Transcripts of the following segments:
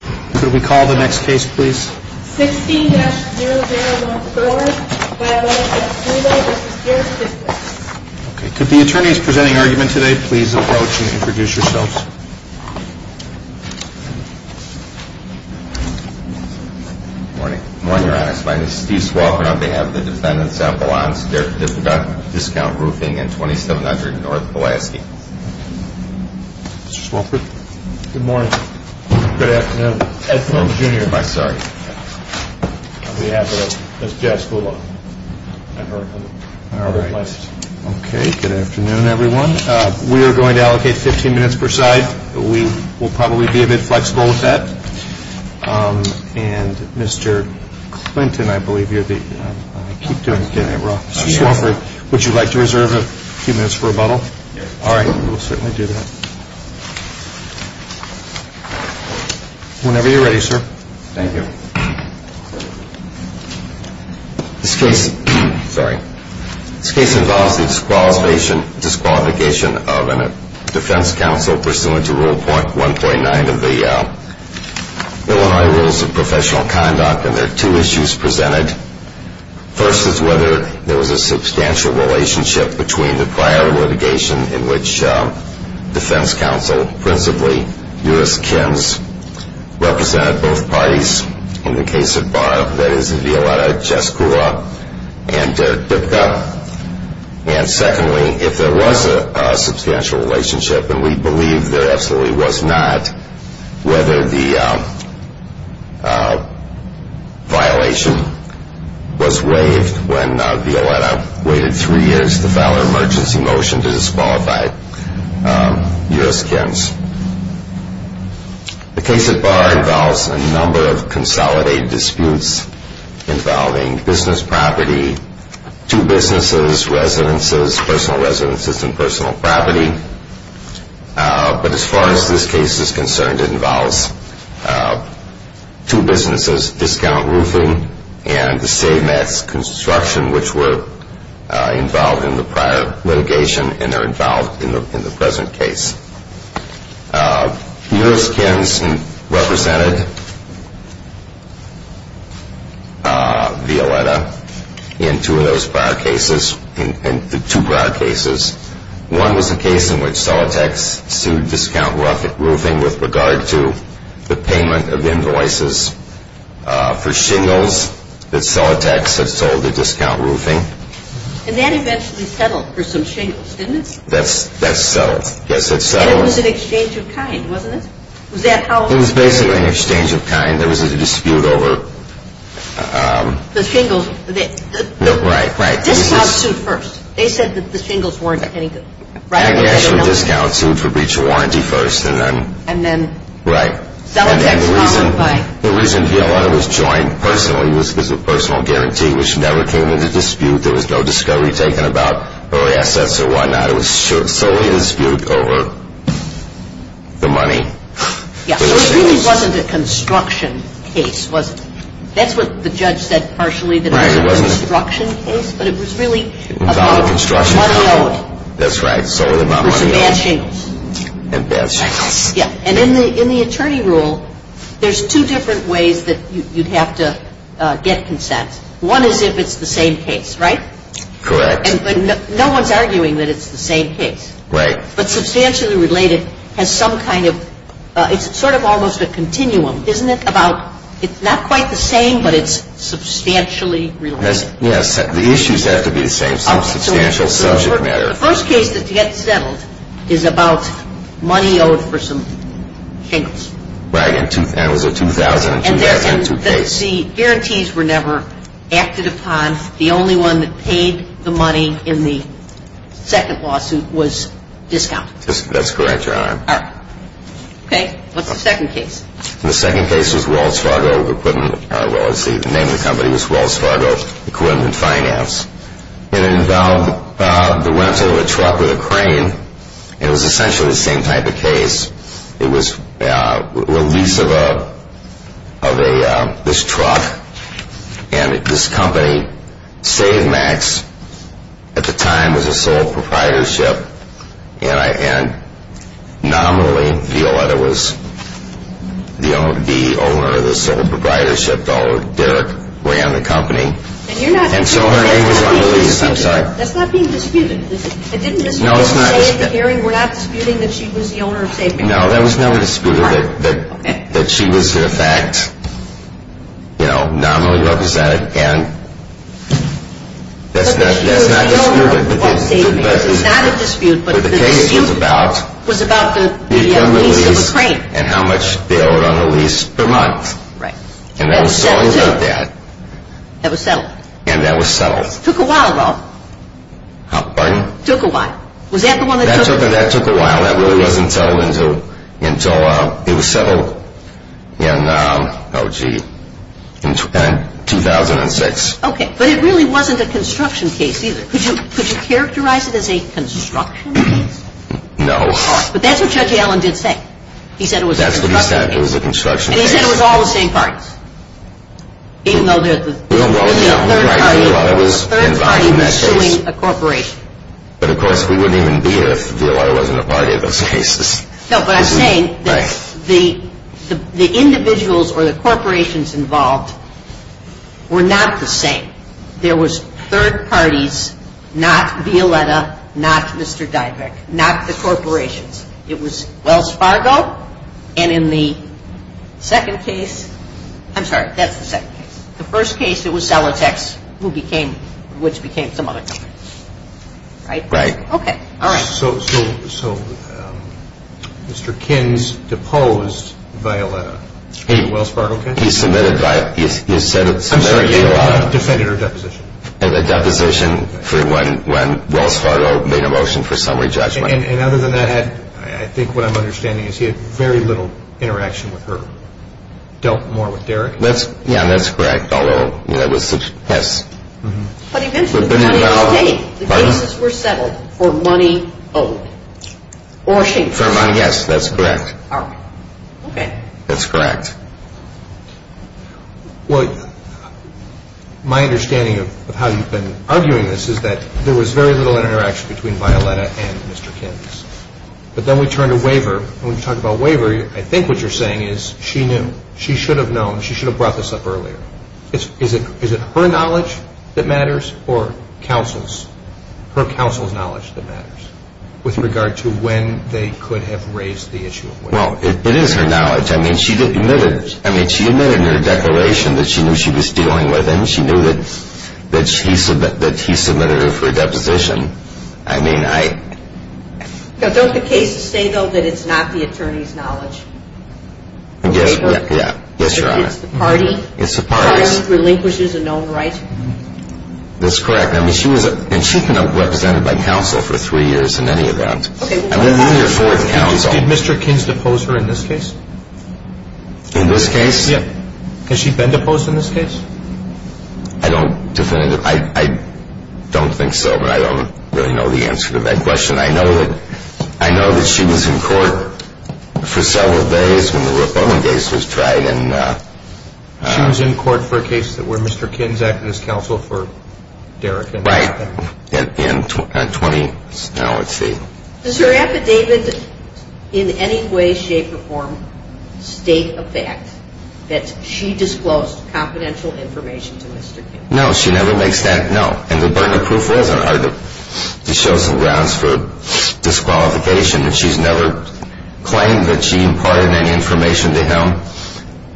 Could we call the next case please? 16-0014, Vyla v. Dybka v. Dybka Could the attorneys presenting argument today please approach and introduce yourselves? Good morning. Good morning, your honors. My name is Steve Swalford on behalf of the defendants at Vyla v. Dybka discount roofing in 2700 North Pulaski. Mr. Swalford. Good morning. Good afternoon. Ed Swalford Jr. on behalf of Ms. Jaskula and her clients. Okay, good afternoon everyone. We are going to allocate 15 minutes per side. We will probably be a bit flexible with that. And Mr. Clinton, I believe you are the... I keep doing it wrong. Mr. Swalford, would you like to reserve a few minutes for rebuttal? All right, we will certainly do that. Whenever you are ready, sir. Thank you. This case involves the disqualification of a defense counsel pursuant to Rule 1.9 of the Illinois Rules of Professional Conduct. And there are two issues presented. First is whether there was a substantial relationship between the prior litigation in which defense counsel, principally U.S. Kims, represented both parties in the case of Barb, that is Violetta Jaskula, and Derek Dybka. And secondly, if there was a substantial relationship, and we believe there absolutely was not, whether the violation was waived when Violetta waited three years to file an emergency motion to disqualify U.S. Kims. The case of Barb involves a number of consolidated disputes involving business property, two businesses, residences, personal residences, and personal property. But as far as this case is concerned, it involves two businesses, Discount Roofing and the same as Construction, which were involved in the prior litigation and are involved in the present case. U.S. Kims represented Violetta in two of those prior cases, in the two prior cases. One was a case in which Celotex sued Discount Roofing with regard to the payment of invoices for shingles that Celotex had sold to Discount Roofing. And that eventually settled for some shingles, didn't it? That's settled. Yes, it settled. And it was an exchange of kind, wasn't it? It was basically an exchange of kind. There was a dispute over. The shingles. Right, right. Discount sued first. They said that the shingles weren't any good. Discount sued for breach of warranty first. And then Celotex followed by. The reason Violetta was joined personally was because of personal guarantee, which never came into dispute. There was no discovery taken about early assets or whatnot. It was solely a dispute over the money. It really wasn't a construction case, was it? That's what the judge said partially, that it was a construction case. But it was really about money only. That's right. It was bad shingles. And bad shingles. And in the attorney rule, there's two different ways that you'd have to get consent. One is if it's the same case, right? Correct. And no one's arguing that it's the same case. Right. But substantially related has some kind of – it's sort of almost a continuum, isn't it? It's not quite the same, but it's substantially related. Yes, the issues have to be the same. Some substantial subject matter. The first case that gets settled is about money owed for some shingles. Right. It was a 2000-2002 case. The guarantees were never acted upon. The only one that paid the money in the second lawsuit was discount. That's correct, Your Honor. All right. Okay. What's the second case? The second case was Wells Fargo Equipment – well, let's see. The name of the company was Wells Fargo Equipment Finance. And it involved the rental of a truck with a crane. It was essentially the same type of case. It was a lease of this truck. And this company, Save Max, at the time was a sole proprietorship. And nominally, Violetta was the owner of the sole proprietorship. Derek ran the company. And so her name was on the lease. That's not being disputed. No, it's not disputed. Are you saying, Gary, we're not disputing that she was the owner of Save Max? No, there was no dispute that she was, in effect, nominally represented. And that's not disputed. But the case was about the lease of a crane. And how much they owed on the lease per month. And that was settled, too. And that was settled. That was settled. And that was settled. Took a while, though. Pardon? Took a while. Was that the one that took a while? That took a while. That really wasn't settled until it was settled in, oh, gee, 2006. Okay. But it really wasn't a construction case, either. Could you characterize it as a construction case? No. But that's what Judge Allen did say. He said it was a construction case. That's what he said. It was a construction case. And he said it was all the same parties. Even though there was a third party pursuing a corporation. But, of course, we wouldn't even be here if Violetta wasn't a party of those cases. No, but I'm saying that the individuals or the corporations involved were not the same. There was third parties, not Violetta, not Mr. Diveck, not the corporations. It was Wells Fargo. And in the second case, I'm sorry, that's the second case. The first case, it was Celotex, which became some other company. Right. Right. Okay. All right. So Mr. Kins deposed Violetta in the Wells Fargo case? He submitted Violetta. I'm sorry, he defended her deposition. The deposition for when Wells Fargo made a motion for summary judgment. And other than that, I think what I'm understanding is he had very little interaction with her. Dealt more with Derek. Yeah, that's correct. Yes. But he mentioned money all day. The cases were settled for money owed. Or she. For money, yes. That's correct. All right. Okay. That's correct. Well, my understanding of how you've been arguing this is that there was very little interaction between Violetta and Mr. Kins. But then we turn to Waver, and when you talk about Waver, I think what you're saying is she knew. She should have known. She should have brought this up earlier. Is it her knowledge that matters or counsel's? Her counsel's knowledge that matters with regard to when they could have raised the issue of Waver. Well, it is her knowledge. I mean, she admitted in her declaration that she knew she was dealing with him. She knew that he submitted her for a deposition. I mean, I. Don't the cases say, though, that it's not the attorney's knowledge? Waver? Yes, Your Honor. It's the party? It's the party. The party relinquishes a known right? That's correct. I mean, she was a... And she's been represented by counsel for three years in any event. Okay. Did Mr. Kins depose her in this case? In this case? Yeah. Has she been deposed in this case? I don't definitively... I don't think so, but I don't really know the answer to that question. I know that she was in court for several days when the Rupp-Owen case was tried. She was in court for a case that where Mr. Kins acted as counsel for Derrick and... Right. In 20... No, let's see. Does her affidavit in any way, shape, or form state a fact that she disclosed confidential information to Mr. Kins? No, she never makes that... She shows some grounds for disqualification, but she's never claimed that she imparted any information to him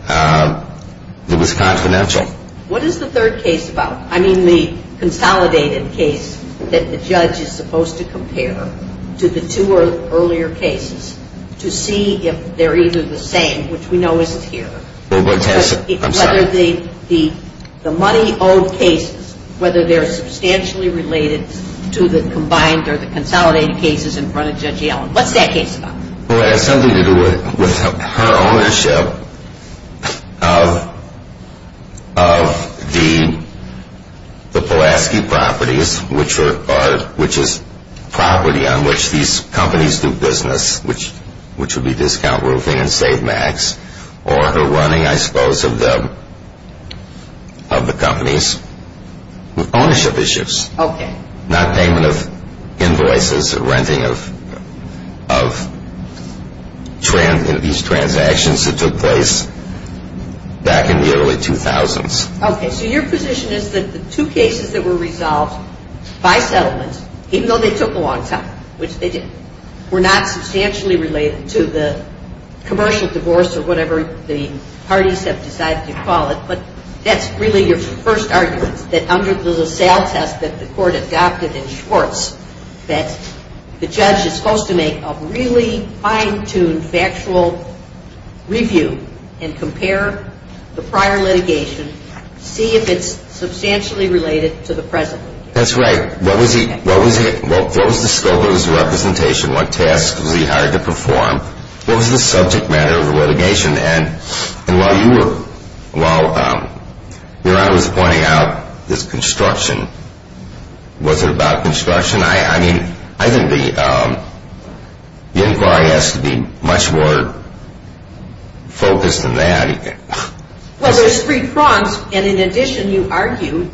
that was confidential. What is the third case about? I mean, the consolidated case that the judge is supposed to compare to the two earlier cases to see if they're either the same, which we know isn't here. I'm sorry. The money owed cases, whether they're substantially related to the combined or the consolidated cases in front of Judge Yellen. What's that case about? Well, it has something to do with her ownership of the Pulaski properties, which is property on which these companies do business, which would be Discount Roofing and Save Max, or her running, I suppose, of the companies with ownership issues. Okay. Not payment of invoices or renting of these transactions that took place back in the early 2000s. Okay. So your position is that the two cases that were resolved by settlement, even though they took a long time, which they did, were not substantially related to the commercial divorce or whatever the parties have decided to call it. But that's really your first argument, that under the LaSalle test that the court adopted in Schwartz, that the judge is supposed to make a really fine-tuned factual review and compare the prior litigation, see if it's substantially related to the present. That's right. What was the scope of his representation? What tasks was he hired to perform? What was the subject matter of the litigation? And while your Honor was pointing out this construction, was it about construction? I mean, I think the inquiry has to be much more focused than that. Well, there's three prongs. And in addition, you argue,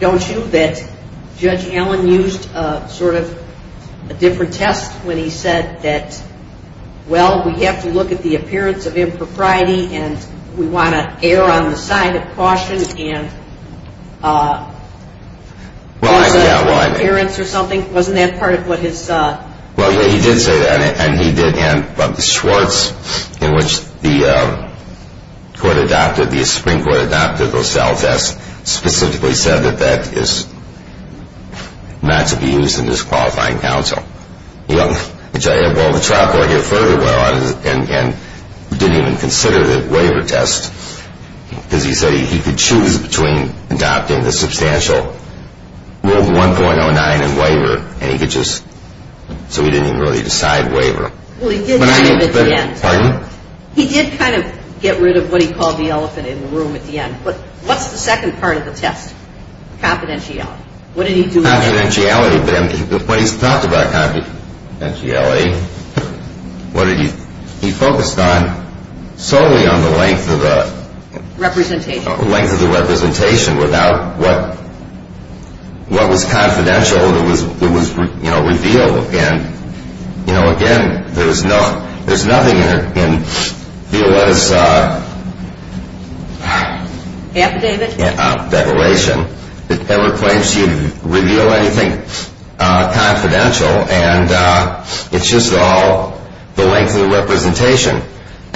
don't you, that Judge Allen used sort of a different test when he said that, well, we have to look at the appearance of impropriety and we want to err on the side of caution. And wasn't that part of what his? Well, yeah, he did say that, and he did. And Schwartz, in which the court adopted, the Supreme Court adopted LaSalle test, specifically said that that is not to be used in this qualifying counsel. Well, the trial court further went on and didn't even consider the waiver test, because he said he could choose between adopting the substantial Rule 1.09 in waiver and he could just, so he didn't even really decide waiver. Well, he did kind of at the end. Pardon? He did kind of get rid of what he called the elephant in the room at the end. But what's the second part of the test? Confidentiality. What did he do? Confidentiality. When he talked about confidentiality, what did he, he focused on, solely on the length of the. Representation. The length of the representation without what was confidential that was revealed. And, you know, again, there's nothing in Violetta's. Affidavit. Declaration that ever claims to reveal anything confidential,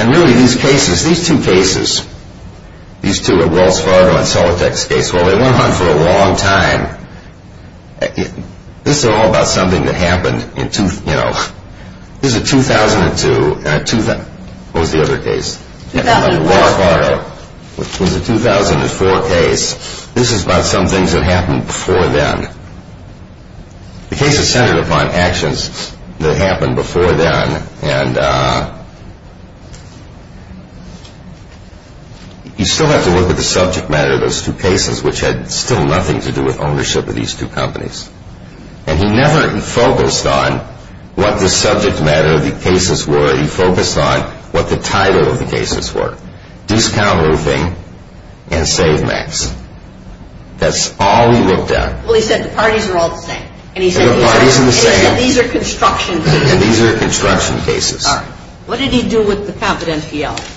And really these cases, these two cases, these two are Wells Fargo and Solitech's case. Well, they went on for a long time. This is all about something that happened in, you know, this is a 2002. What was the other case? Wells Fargo. It was a 2004 case. This is about some things that happened before then. The case is centered upon actions that happened before then. And you still have to look at the subject matter of those two cases, which had still nothing to do with ownership of these two companies. And he never focused on what the subject matter of the cases were. He focused on what the title of the cases were. Discount roofing and Save Max. That's all he looked at. Well, he said the parties are all the same. And he said these are construction cases. These are construction cases. All right. What did he do with the confidentiality?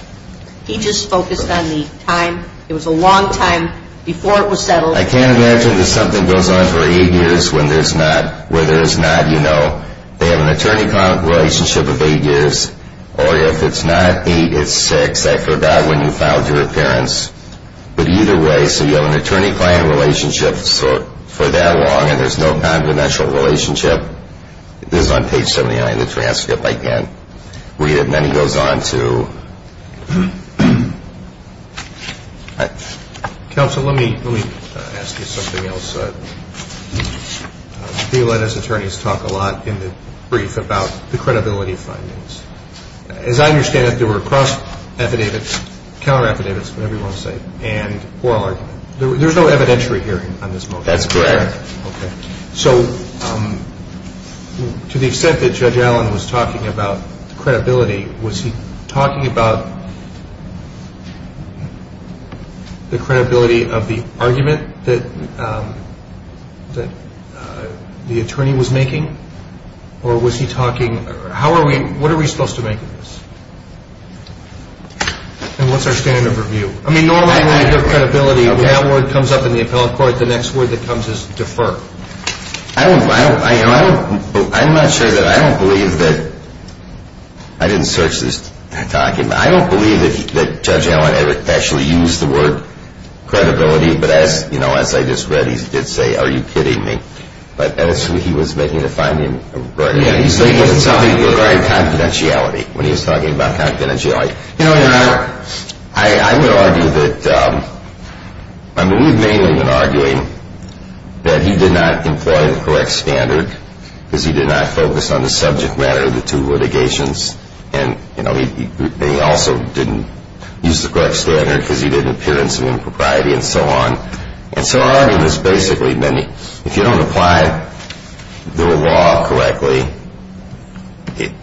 He just focused on the time. It was a long time before it was settled. I can't imagine that something goes on for eight years when there's not, where there is not, you know, they have an attorney-client relationship of eight years. Or if it's not eight, it's six. I forgot when you filed your appearance. But either way, so you have an attorney-client relationship for that long and there's no confidential relationship. This is on page 79 of the transcript. I can't read it. And then he goes on to – Counsel, let me ask you something else. He let his attorneys talk a lot in the brief about the credibility findings. As I understand it, there were cross-affidavits, counter-affidavits, whatever you want to say, and oral argument. There's no evidentiary hearing on this motion. That's correct. Okay. So to the extent that Judge Allen was talking about the credibility, was he talking about the credibility of the argument that the attorney was making? Or was he talking – how are we – what are we supposed to make of this? And what's our standard of review? I mean, normally when you hear credibility, that word comes up in the appellate court. The next word that comes is defer. I'm not sure that – I don't believe that – I didn't search this document. I don't believe that Judge Allen actually used the word credibility. But as, you know, as I just read, he did say, are you kidding me? But that's what he was making a finding regarding. He was making something regarding confidentiality when he was talking about confidentiality. You know, Your Honor, I would argue that – I mean, we've mainly been arguing that he did not employ the correct standard because he did not focus on the subject matter of the two litigations. And, you know, he also didn't use the correct standard because he did appearance of impropriety and so on. And so our argument is basically, if you don't apply the law correctly,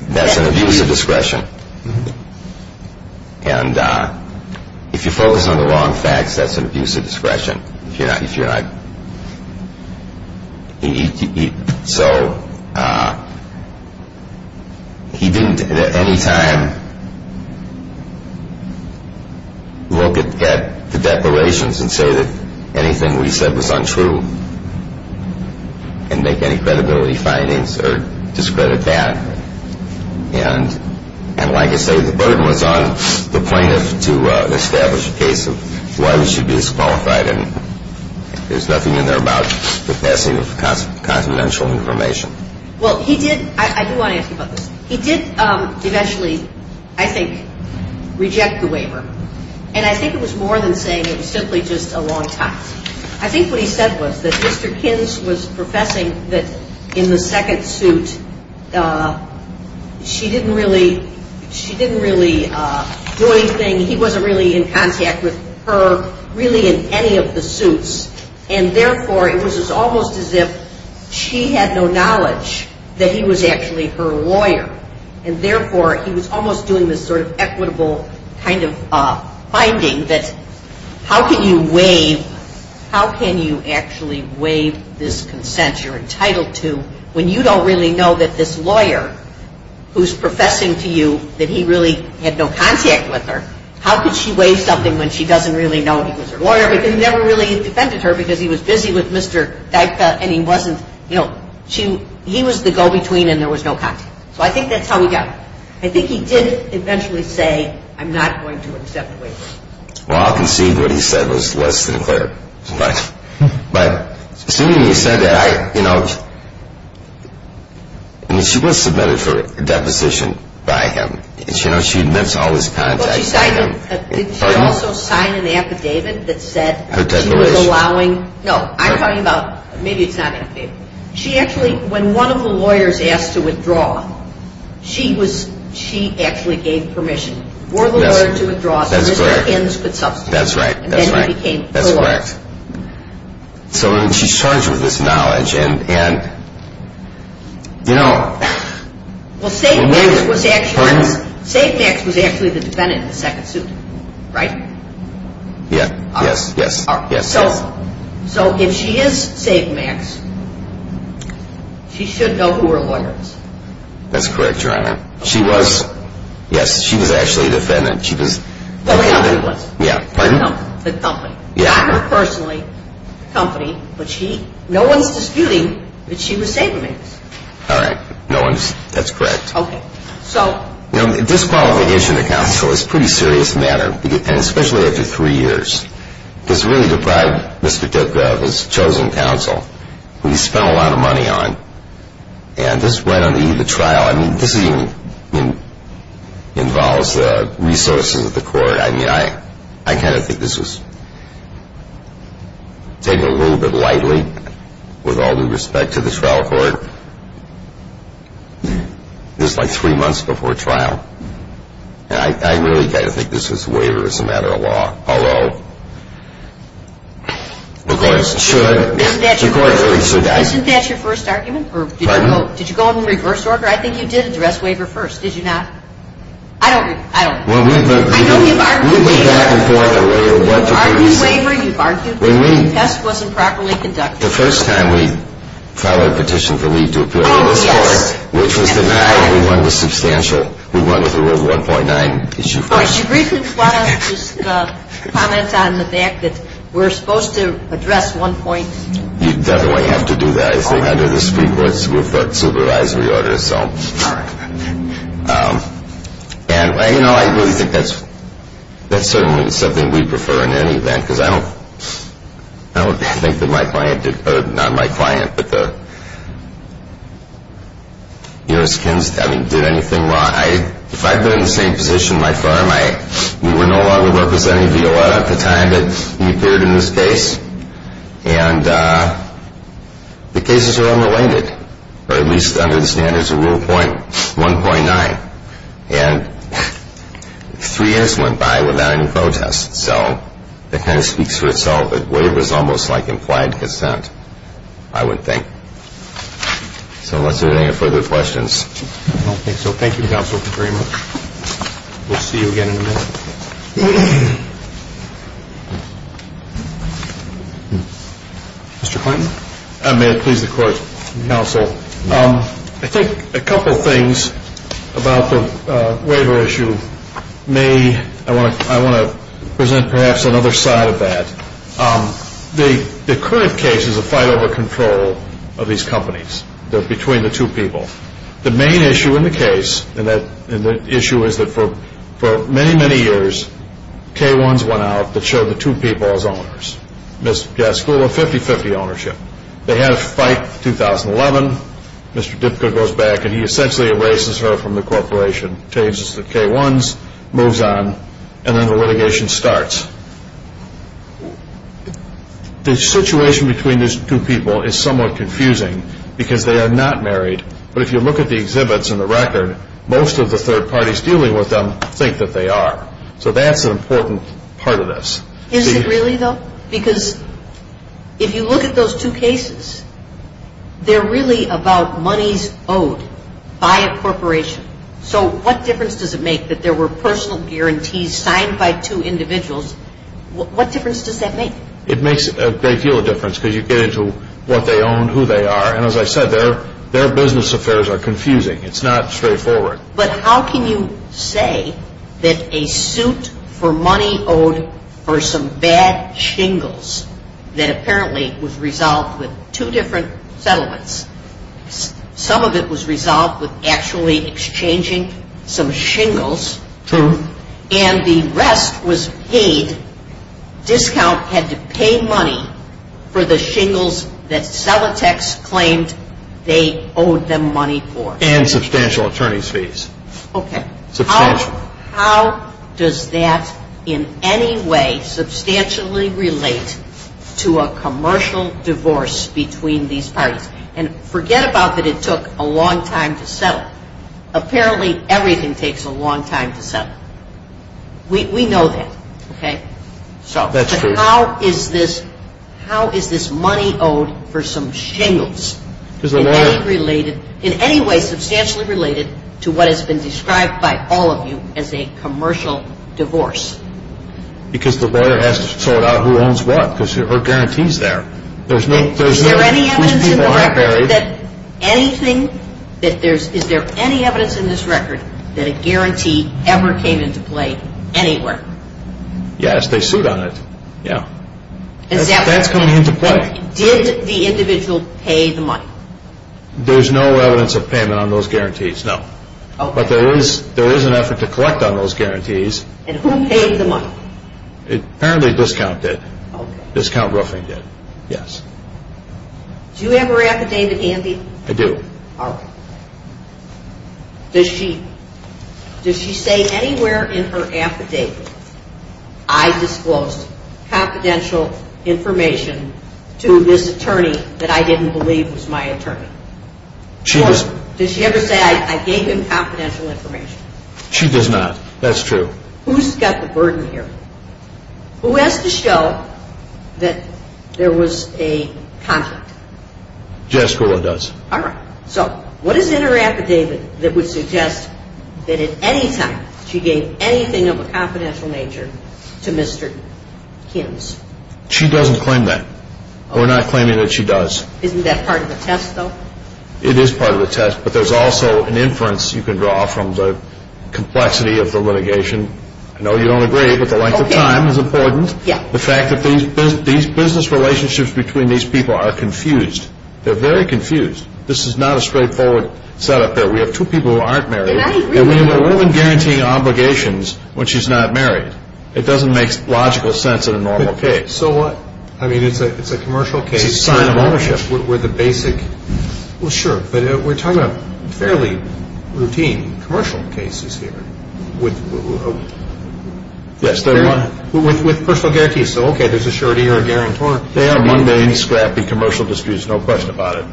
that's an abuse of discretion. And if you focus on the wrong facts, that's an abuse of discretion. So he didn't at any time look at the declarations and say that anything we said was untrue and make any credibility findings or discredit that. And like I say, the burden was on the plaintiff to establish a case of why we should be disqualified. And there's nothing in there about the passing of confidential information. Well, he did – I do want to ask you about this. He did eventually, I think, reject the waiver. And I think it was more than saying it was simply just a long time. I think what he said was that Mr. Kins was professing that in the second suit she didn't really do anything. He wasn't really in contact with her really in any of the suits. And, therefore, it was almost as if she had no knowledge that he was actually her lawyer. And, therefore, he was almost doing this sort of equitable kind of finding that how can you waive – how can you actually waive this consent you're entitled to when you don't really know that this lawyer who's professing to you that he really had no contact with her, how could she waive something when she doesn't really know he was her lawyer because he never really defended her because he was busy with Mr. Dyka and he wasn't – he was the go-between and there was no contact. So I think that's how he got it. I think he did eventually say, I'm not going to accept the waiver. Well, I'll concede what he said was less than clear. But assuming he said that, I, you know – I mean, she was submitted for a deposition by him. And, you know, she admits all this contact. But she also signed an affidavit that said she was allowing – Her declaration. No, I'm talking about – maybe it's not an affidavit. She actually – when one of the lawyers asked to withdraw, she was – she actually gave permission for the lawyer to withdraw so Mr. Kins could substitute. That's right, that's right. And then he became her lawyer. That's correct. So she's charged with this knowledge and, you know – Well, Save Max was actually – Pardon me? Save Max was actually the defendant in the second suit, right? Yes, yes, yes. So if she is Save Max, she should know who her lawyer is. That's correct, Your Honor. She was – yes, she was actually a defendant. She was – The company was. Yeah, pardon? The company. Yeah. Not her personally. The company. But she – no one's disputing that she was Save Max. All right. No one's – that's correct. Okay. So – You know, disqualification of counsel is a pretty serious matter. And especially after three years. Because it really deprived Mr. Dukov, his chosen counsel, who he spent a lot of money on. And just right on the eve of the trial – I mean, this even involves the resources of the court. I mean, I kind of think this was taken a little bit lightly with all due respect to the trial court. Just like three months before trial. And I really kind of think this was waiver as a matter of law. Although, the courts should – the courts really should – Isn't that your first argument? Pardon? Or did you go in reverse order? I think you did address waiver first. Did you not? I don't – I don't – Well, we've been – I know you've argued waiver. We've been back and forth on what to do. You've argued waiver. You've argued that the test wasn't properly conducted. The first time we filed a petition to leave to appeal to this court, which was the night we won the substantial. We won with a reward of 1.9. Oh, she briefly wanted to just comment on the fact that we're supposed to address 1. You definitely have to do that. I think under the Supreme Court's supervisory order, so. All right. And, you know, I really think that's certainly something we prefer in any event. Because I don't – I don't think that my client did – or not my client, but the U.S. cons – I mean, did anything wrong. I – if I'd been in the same position, my firm, I – we were no longer representing Viola at the time that he appeared in this case. And the cases are unrelated, or at least under the standards of Rule 1.9. And three years went by without any protests. So that kind of speaks for itself. A waiver is almost like implied consent, I would think. So unless there are any further questions. I don't think so. Thank you, Counsel, very much. We'll see you again in a minute. Mr. Clayton. May it please the Court, Counsel. I think a couple of things about the waiver issue may – I want to present perhaps another side of that. The current case is a fight over control of these companies. They're between the two people. The main issue in the case, and the issue is that for many, many years, K-1s went out that showed the two people as owners. School of 50-50 ownership. They had a fight in 2011. Mr. Dipka goes back and he essentially erases her from the corporation, changes to K-1s, moves on, and then the litigation starts. The situation between these two people is somewhat confusing because they are not married. But if you look at the exhibits and the record, most of the third parties dealing with them think that they are. So that's an important part of this. Is it really, though? Because if you look at those two cases, they're really about monies owed by a corporation. So what difference does it make that there were personal guarantees signed by two individuals? What difference does that make? It makes a great deal of difference because you get into what they own, who they are. And as I said, their business affairs are confusing. It's not straightforward. But how can you say that a suit for money owed for some bad shingles that apparently was resolved with two different settlements. Some of it was resolved with actually exchanging some shingles. True. And the rest was paid. Discount had to pay money for the shingles that Celotex claimed they owed them money for. And substantial attorney's fees. Okay. Substantial. How does that in any way substantially relate to a commercial divorce between these parties? And forget about that it took a long time to settle. Apparently everything takes a long time to settle. We know that, okay? That's true. How is this money owed for some shingles in any way substantially related to what has been described by all of you as a commercial divorce? Because the lawyer has to sort out who owns what because there are guarantees there. Is there any evidence in the record that anything that there's, is there any evidence in this record that a guarantee ever came into play anywhere? Yes, they suit on it. Yeah. That's coming into play. Did the individual pay the money? There's no evidence of payment on those guarantees, no. But there is an effort to collect on those guarantees. And who paid the money? Apparently discount did. Discount Ruffing did, yes. Do you have her affidavit, Andy? I do. Does she, does she say anywhere in her affidavit I disclosed confidential information to this attorney that I didn't believe was my attorney? She does. Does she ever say I gave him confidential information? She does not. That's true. Who's got the burden here? Who has to show that there was a contract? Jessica does. All right. So what is in her affidavit that would suggest that at any time she gave anything of a confidential nature to Mr. Kims? She doesn't claim that. We're not claiming that she does. Isn't that part of the test, though? It is part of the test, but there's also an inference you can draw from the complexity of the litigation. I know you don't agree, but the length of time is important. Yeah. The fact that these business relationships between these people are confused. They're very confused. This is not a straightforward setup here. We have two people who aren't married, and we have a woman guaranteeing obligations when she's not married. It doesn't make logical sense in a normal case. So what? I mean, it's a commercial case. It's a sign of ownership. We're the basic. Well, sure, but we're talking about fairly routine commercial cases here. Yes. With personal guarantees. So, okay, there's a surety or a guarantor. They are mundane, scrappy commercial disputes. No question about it.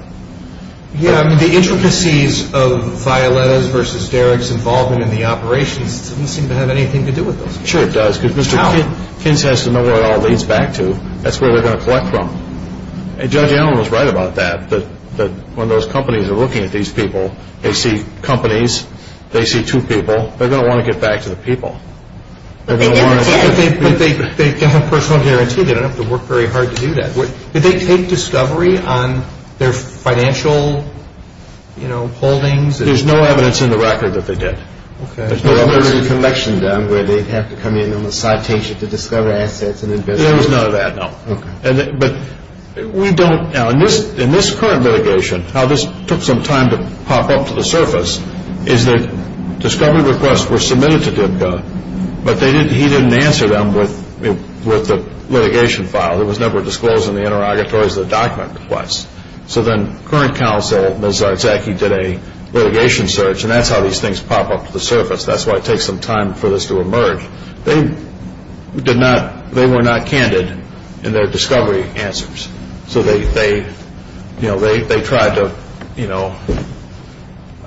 Yeah, I mean, the intricacies of Violetta's versus Derek's involvement in the operations doesn't seem to have anything to do with this. Sure it does. How? Because Mr. Kims has to know where it all leads back to. That's where they're going to collect from. And Judge Allen was right about that, that when those companies are looking at these people, they see companies, they see two people. They're going to want to get back to the people. They can have personal guarantee. They don't have to work very hard to do that. Did they take discovery on their financial holdings? There's no evidence in the record that they did. Okay. There's no evidence. Well, there's a collection down where they'd have to come in on a citation to discover assets and invest. There was none of that, no. Okay. But we don't, now in this current litigation, how this took some time to pop up to the surface is that discovery requests were submitted to DBCA, but he didn't answer them with the litigation file. There was never disclosed in the interrogatories the document request. So then current counsel, Ms. Zartzacki, did a litigation search, and that's how these things pop up to the surface. That's why it takes some time for this to emerge. They were not candid in their discovery answers. So they tried to, you know,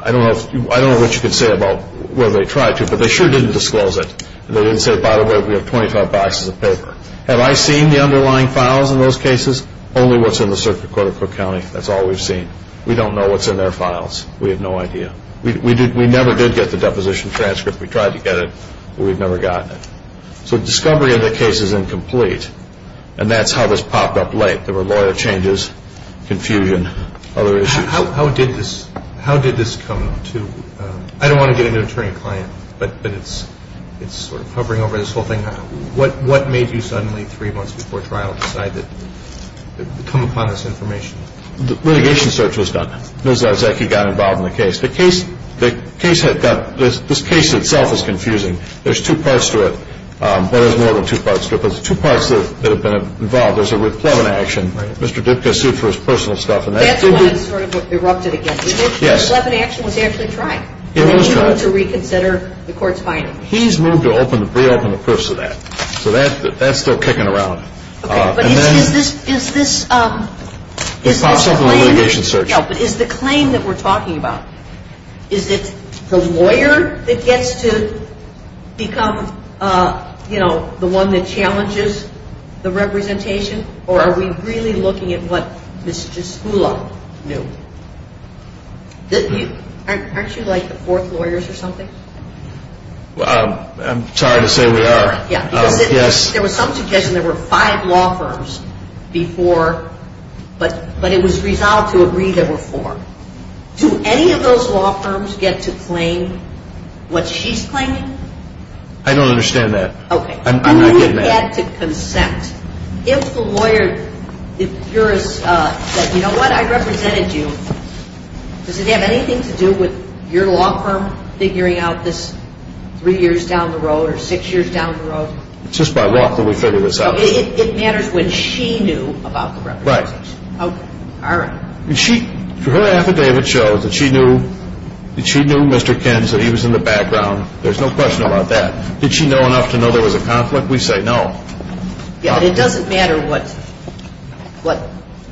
I don't know what you can say about whether they tried to, but they sure didn't disclose it. They didn't say, by the way, we have 25 boxes of paper. Have I seen the underlying files in those cases? Only what's in the Circuit Court of Cook County. That's all we've seen. We don't know what's in their files. We have no idea. We never did get the deposition transcript. We tried to get it, but we've never gotten it. So discovery of the case is incomplete, and that's how this popped up late. There were lawyer changes, confusion, other issues. How did this come to, I don't want to get into attorney-client, but it's sort of hovering over this whole thing. What made you suddenly three months before trial decide to come upon this information? The litigation search was done. Ms. Zartzacki got involved in the case. The case had got, this case itself is confusing. There's two parts to it. Well, there's more than two parts to it, but there's two parts that have been involved. There's the Plevin action. Right. Mr. Dipka sued for his personal stuff. That's when it sort of erupted again. Yes. The Plevin action was actually tried. It was tried. And then you went to reconsider the court's findings. He's moved to reopen the proofs of that. So that's still kicking around. Okay. But is this? It pops up in the litigation search. No, but is the claim that we're talking about, is it the lawyer that gets to become, you know, the one that challenges the representation? Or are we really looking at what Ms. Jaskula knew? Aren't you like the fourth lawyers or something? I'm sorry to say we are. Yes. There were some suggestions there were five law firms before, but it was resolved to agree there were four. Do any of those law firms get to claim what she's claiming? I don't understand that. Okay. I'm not getting that. Do we get to consent? If the lawyer, if yours said, you know what, I represented you, does it have anything to do with your law firm figuring out this three years down the road or six years down the road? It's just by law that we figure this out. It matters when she knew about the representation. Right. Okay. All right. If her affidavit shows that she knew Mr. Kins, that he was in the background, there's no question about that. Did she know enough to know there was a conflict? We say no. Yeah, but it doesn't matter what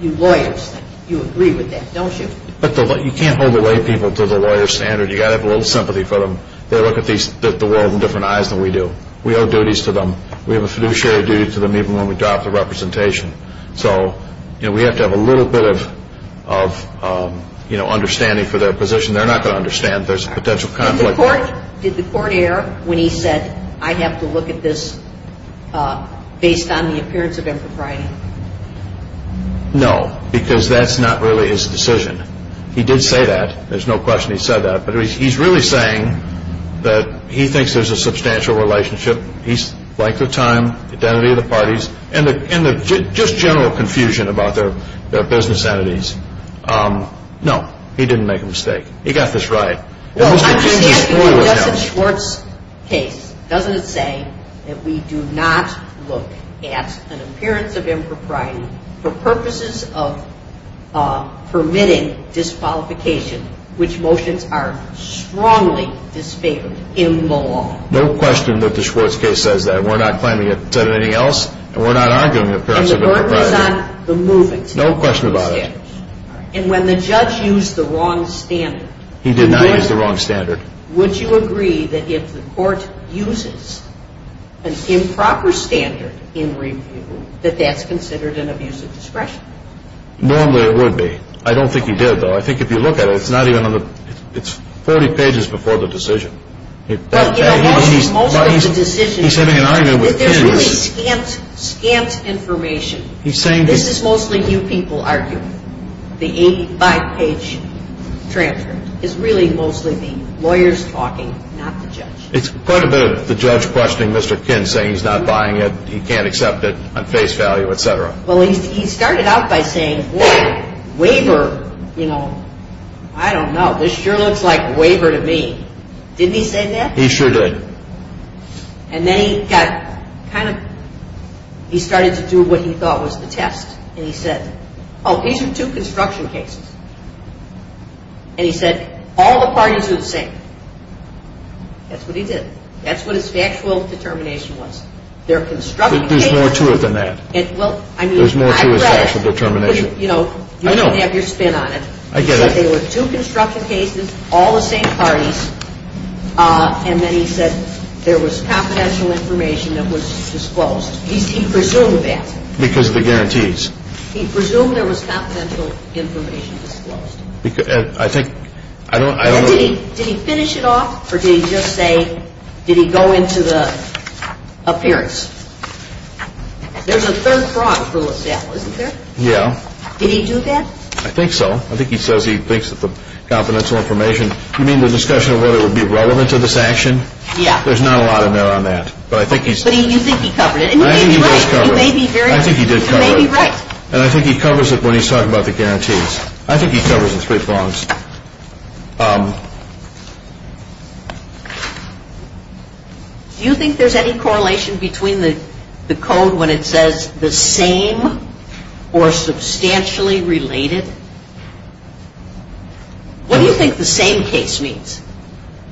you lawyers think. You agree with that, don't you? You can't hold the laypeople to the lawyer's standard. You've got to have a little sympathy for them. They look at the world in different eyes than we do. We owe duties to them. We have a fiduciary duty to them even when we drop the representation. So, you know, we have to have a little bit of, you know, understanding for their position. They're not going to understand there's a potential conflict. Did the court err when he said, I have to look at this based on the appearance of impropriety? No, because that's not really his decision. He did say that. There's no question he said that. But he's really saying that he thinks there's a substantial relationship, he's liked her time, identity of the parties, and the just general confusion about their business entities. No, he didn't make a mistake. He got this right. Well, I'm just asking because that's a Schwartz case. Doesn't it say that we do not look at an appearance of impropriety for purposes of permitting disqualification, which motions are strongly disfavored in the law? No question that the Schwartz case says that. We're not claiming it said anything else, and we're not arguing it perhaps of impropriety. And the court was on the moving standards. No question about it. And when the judge used the wrong standard. He did not use the wrong standard. Would you agree that if the court uses an improper standard in review, that that's considered an abuse of discretion? Normally it would be. I don't think he did, though. I think if you look at it, it's 40 pages before the decision. Well, you know, most of the decisions, there's really scant information. This is mostly you people arguing. The 85-page transcript is really mostly me, lawyers talking, not the judge. It's quite a bit of the judge questioning Mr. Kinn, saying he's not buying it, he can't accept it on face value, et cetera. Well, he started out by saying, well, waiver, you know, I don't know. This sure looks like waiver to me. Didn't he say that? He sure did. And then he got kind of, he started to do what he thought was the test. And he said, oh, these are two construction cases. And he said, all the parties are the same. That's what he did. That's what his factual determination was. There are construction cases. There's more to it than that. There's more to his factual determination. You know, you don't have your spin on it. I get it. But they were two construction cases, all the same parties, and then he said there was confidential information that was disclosed. He presumed that. Because of the guarantees. He presumed there was confidential information disclosed. I think, I don't know. Did he finish it off, or did he just say, did he go into the appearance? There's a third fraud for LaSalle, isn't there? Yeah. Did he do that? I think so. I think he says he thinks that the confidential information, you mean the discussion of whether it would be relevant to this action? Yeah. There's not a lot in there on that. But I think he's. But you think he covered it. I think he did cover it. You may be very. I think he did cover it. You may be right. And I think he covers it when he's talking about the guarantees. I think he covers the three frauds. Do you think there's any correlation between the code when it says the same or substantially related? What do you think the same case means?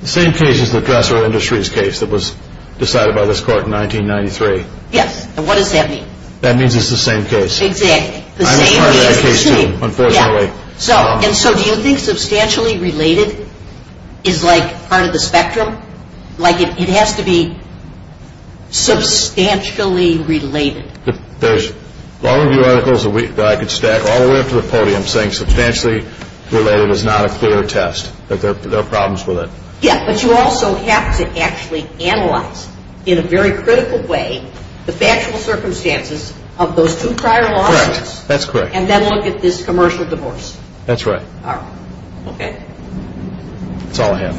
The same case is the industrial case that was decided by this court in 1993. Yes. And what does that mean? That means it's the same case. Exactly. I'm a part of that case too, unfortunately. And so do you think substantially related is like part of the spectrum? Like it has to be substantially related. There's long review articles that I could stack all the way up to the podium saying substantially related is not a clear test, that there are problems with it. Yeah. But you also have to actually analyze in a very critical way the factual circumstances of those two prior lawsuits. Correct. That's correct. And then look at this commercial divorce. That's right. All right. Okay. That's all I have.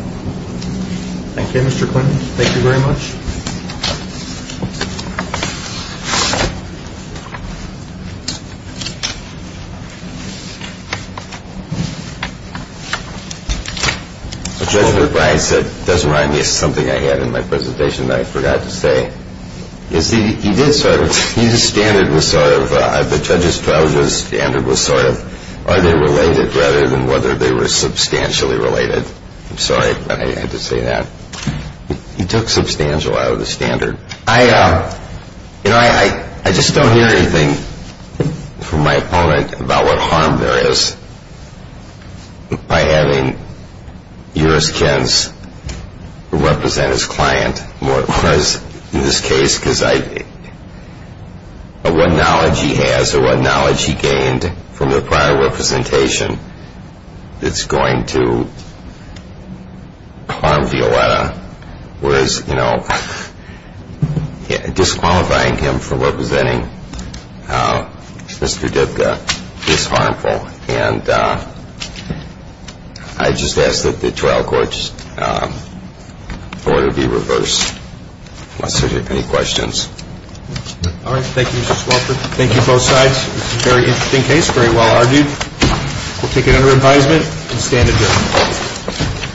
Thank you, Mr. Clement. Thank you very much. Judge McBride said it doesn't remind me of something I had in my presentation that I forgot to say. Yes, he did sort of. His standard was sort of, I bet Judge Estrada's standard was sort of are they related rather than whether they were substantially related. I'm sorry I had to say that. He took substantial out of the standard. I, you know, I just don't hear anything from my opponent about what harm there is by having U.S. represent his client more, whereas in this case, because of what knowledge he has or what knowledge he gained from the prior representation, it's going to harm Violetta, whereas, you know, disqualifying him for representing Mr. Divka is harmful. And I just ask that the trial court's order be reversed unless there's any questions. All right. Thank you, Mr. Swofford. Thank you, both sides. This is a very interesting case, very well argued. We'll take it under advisement and stand adjourned.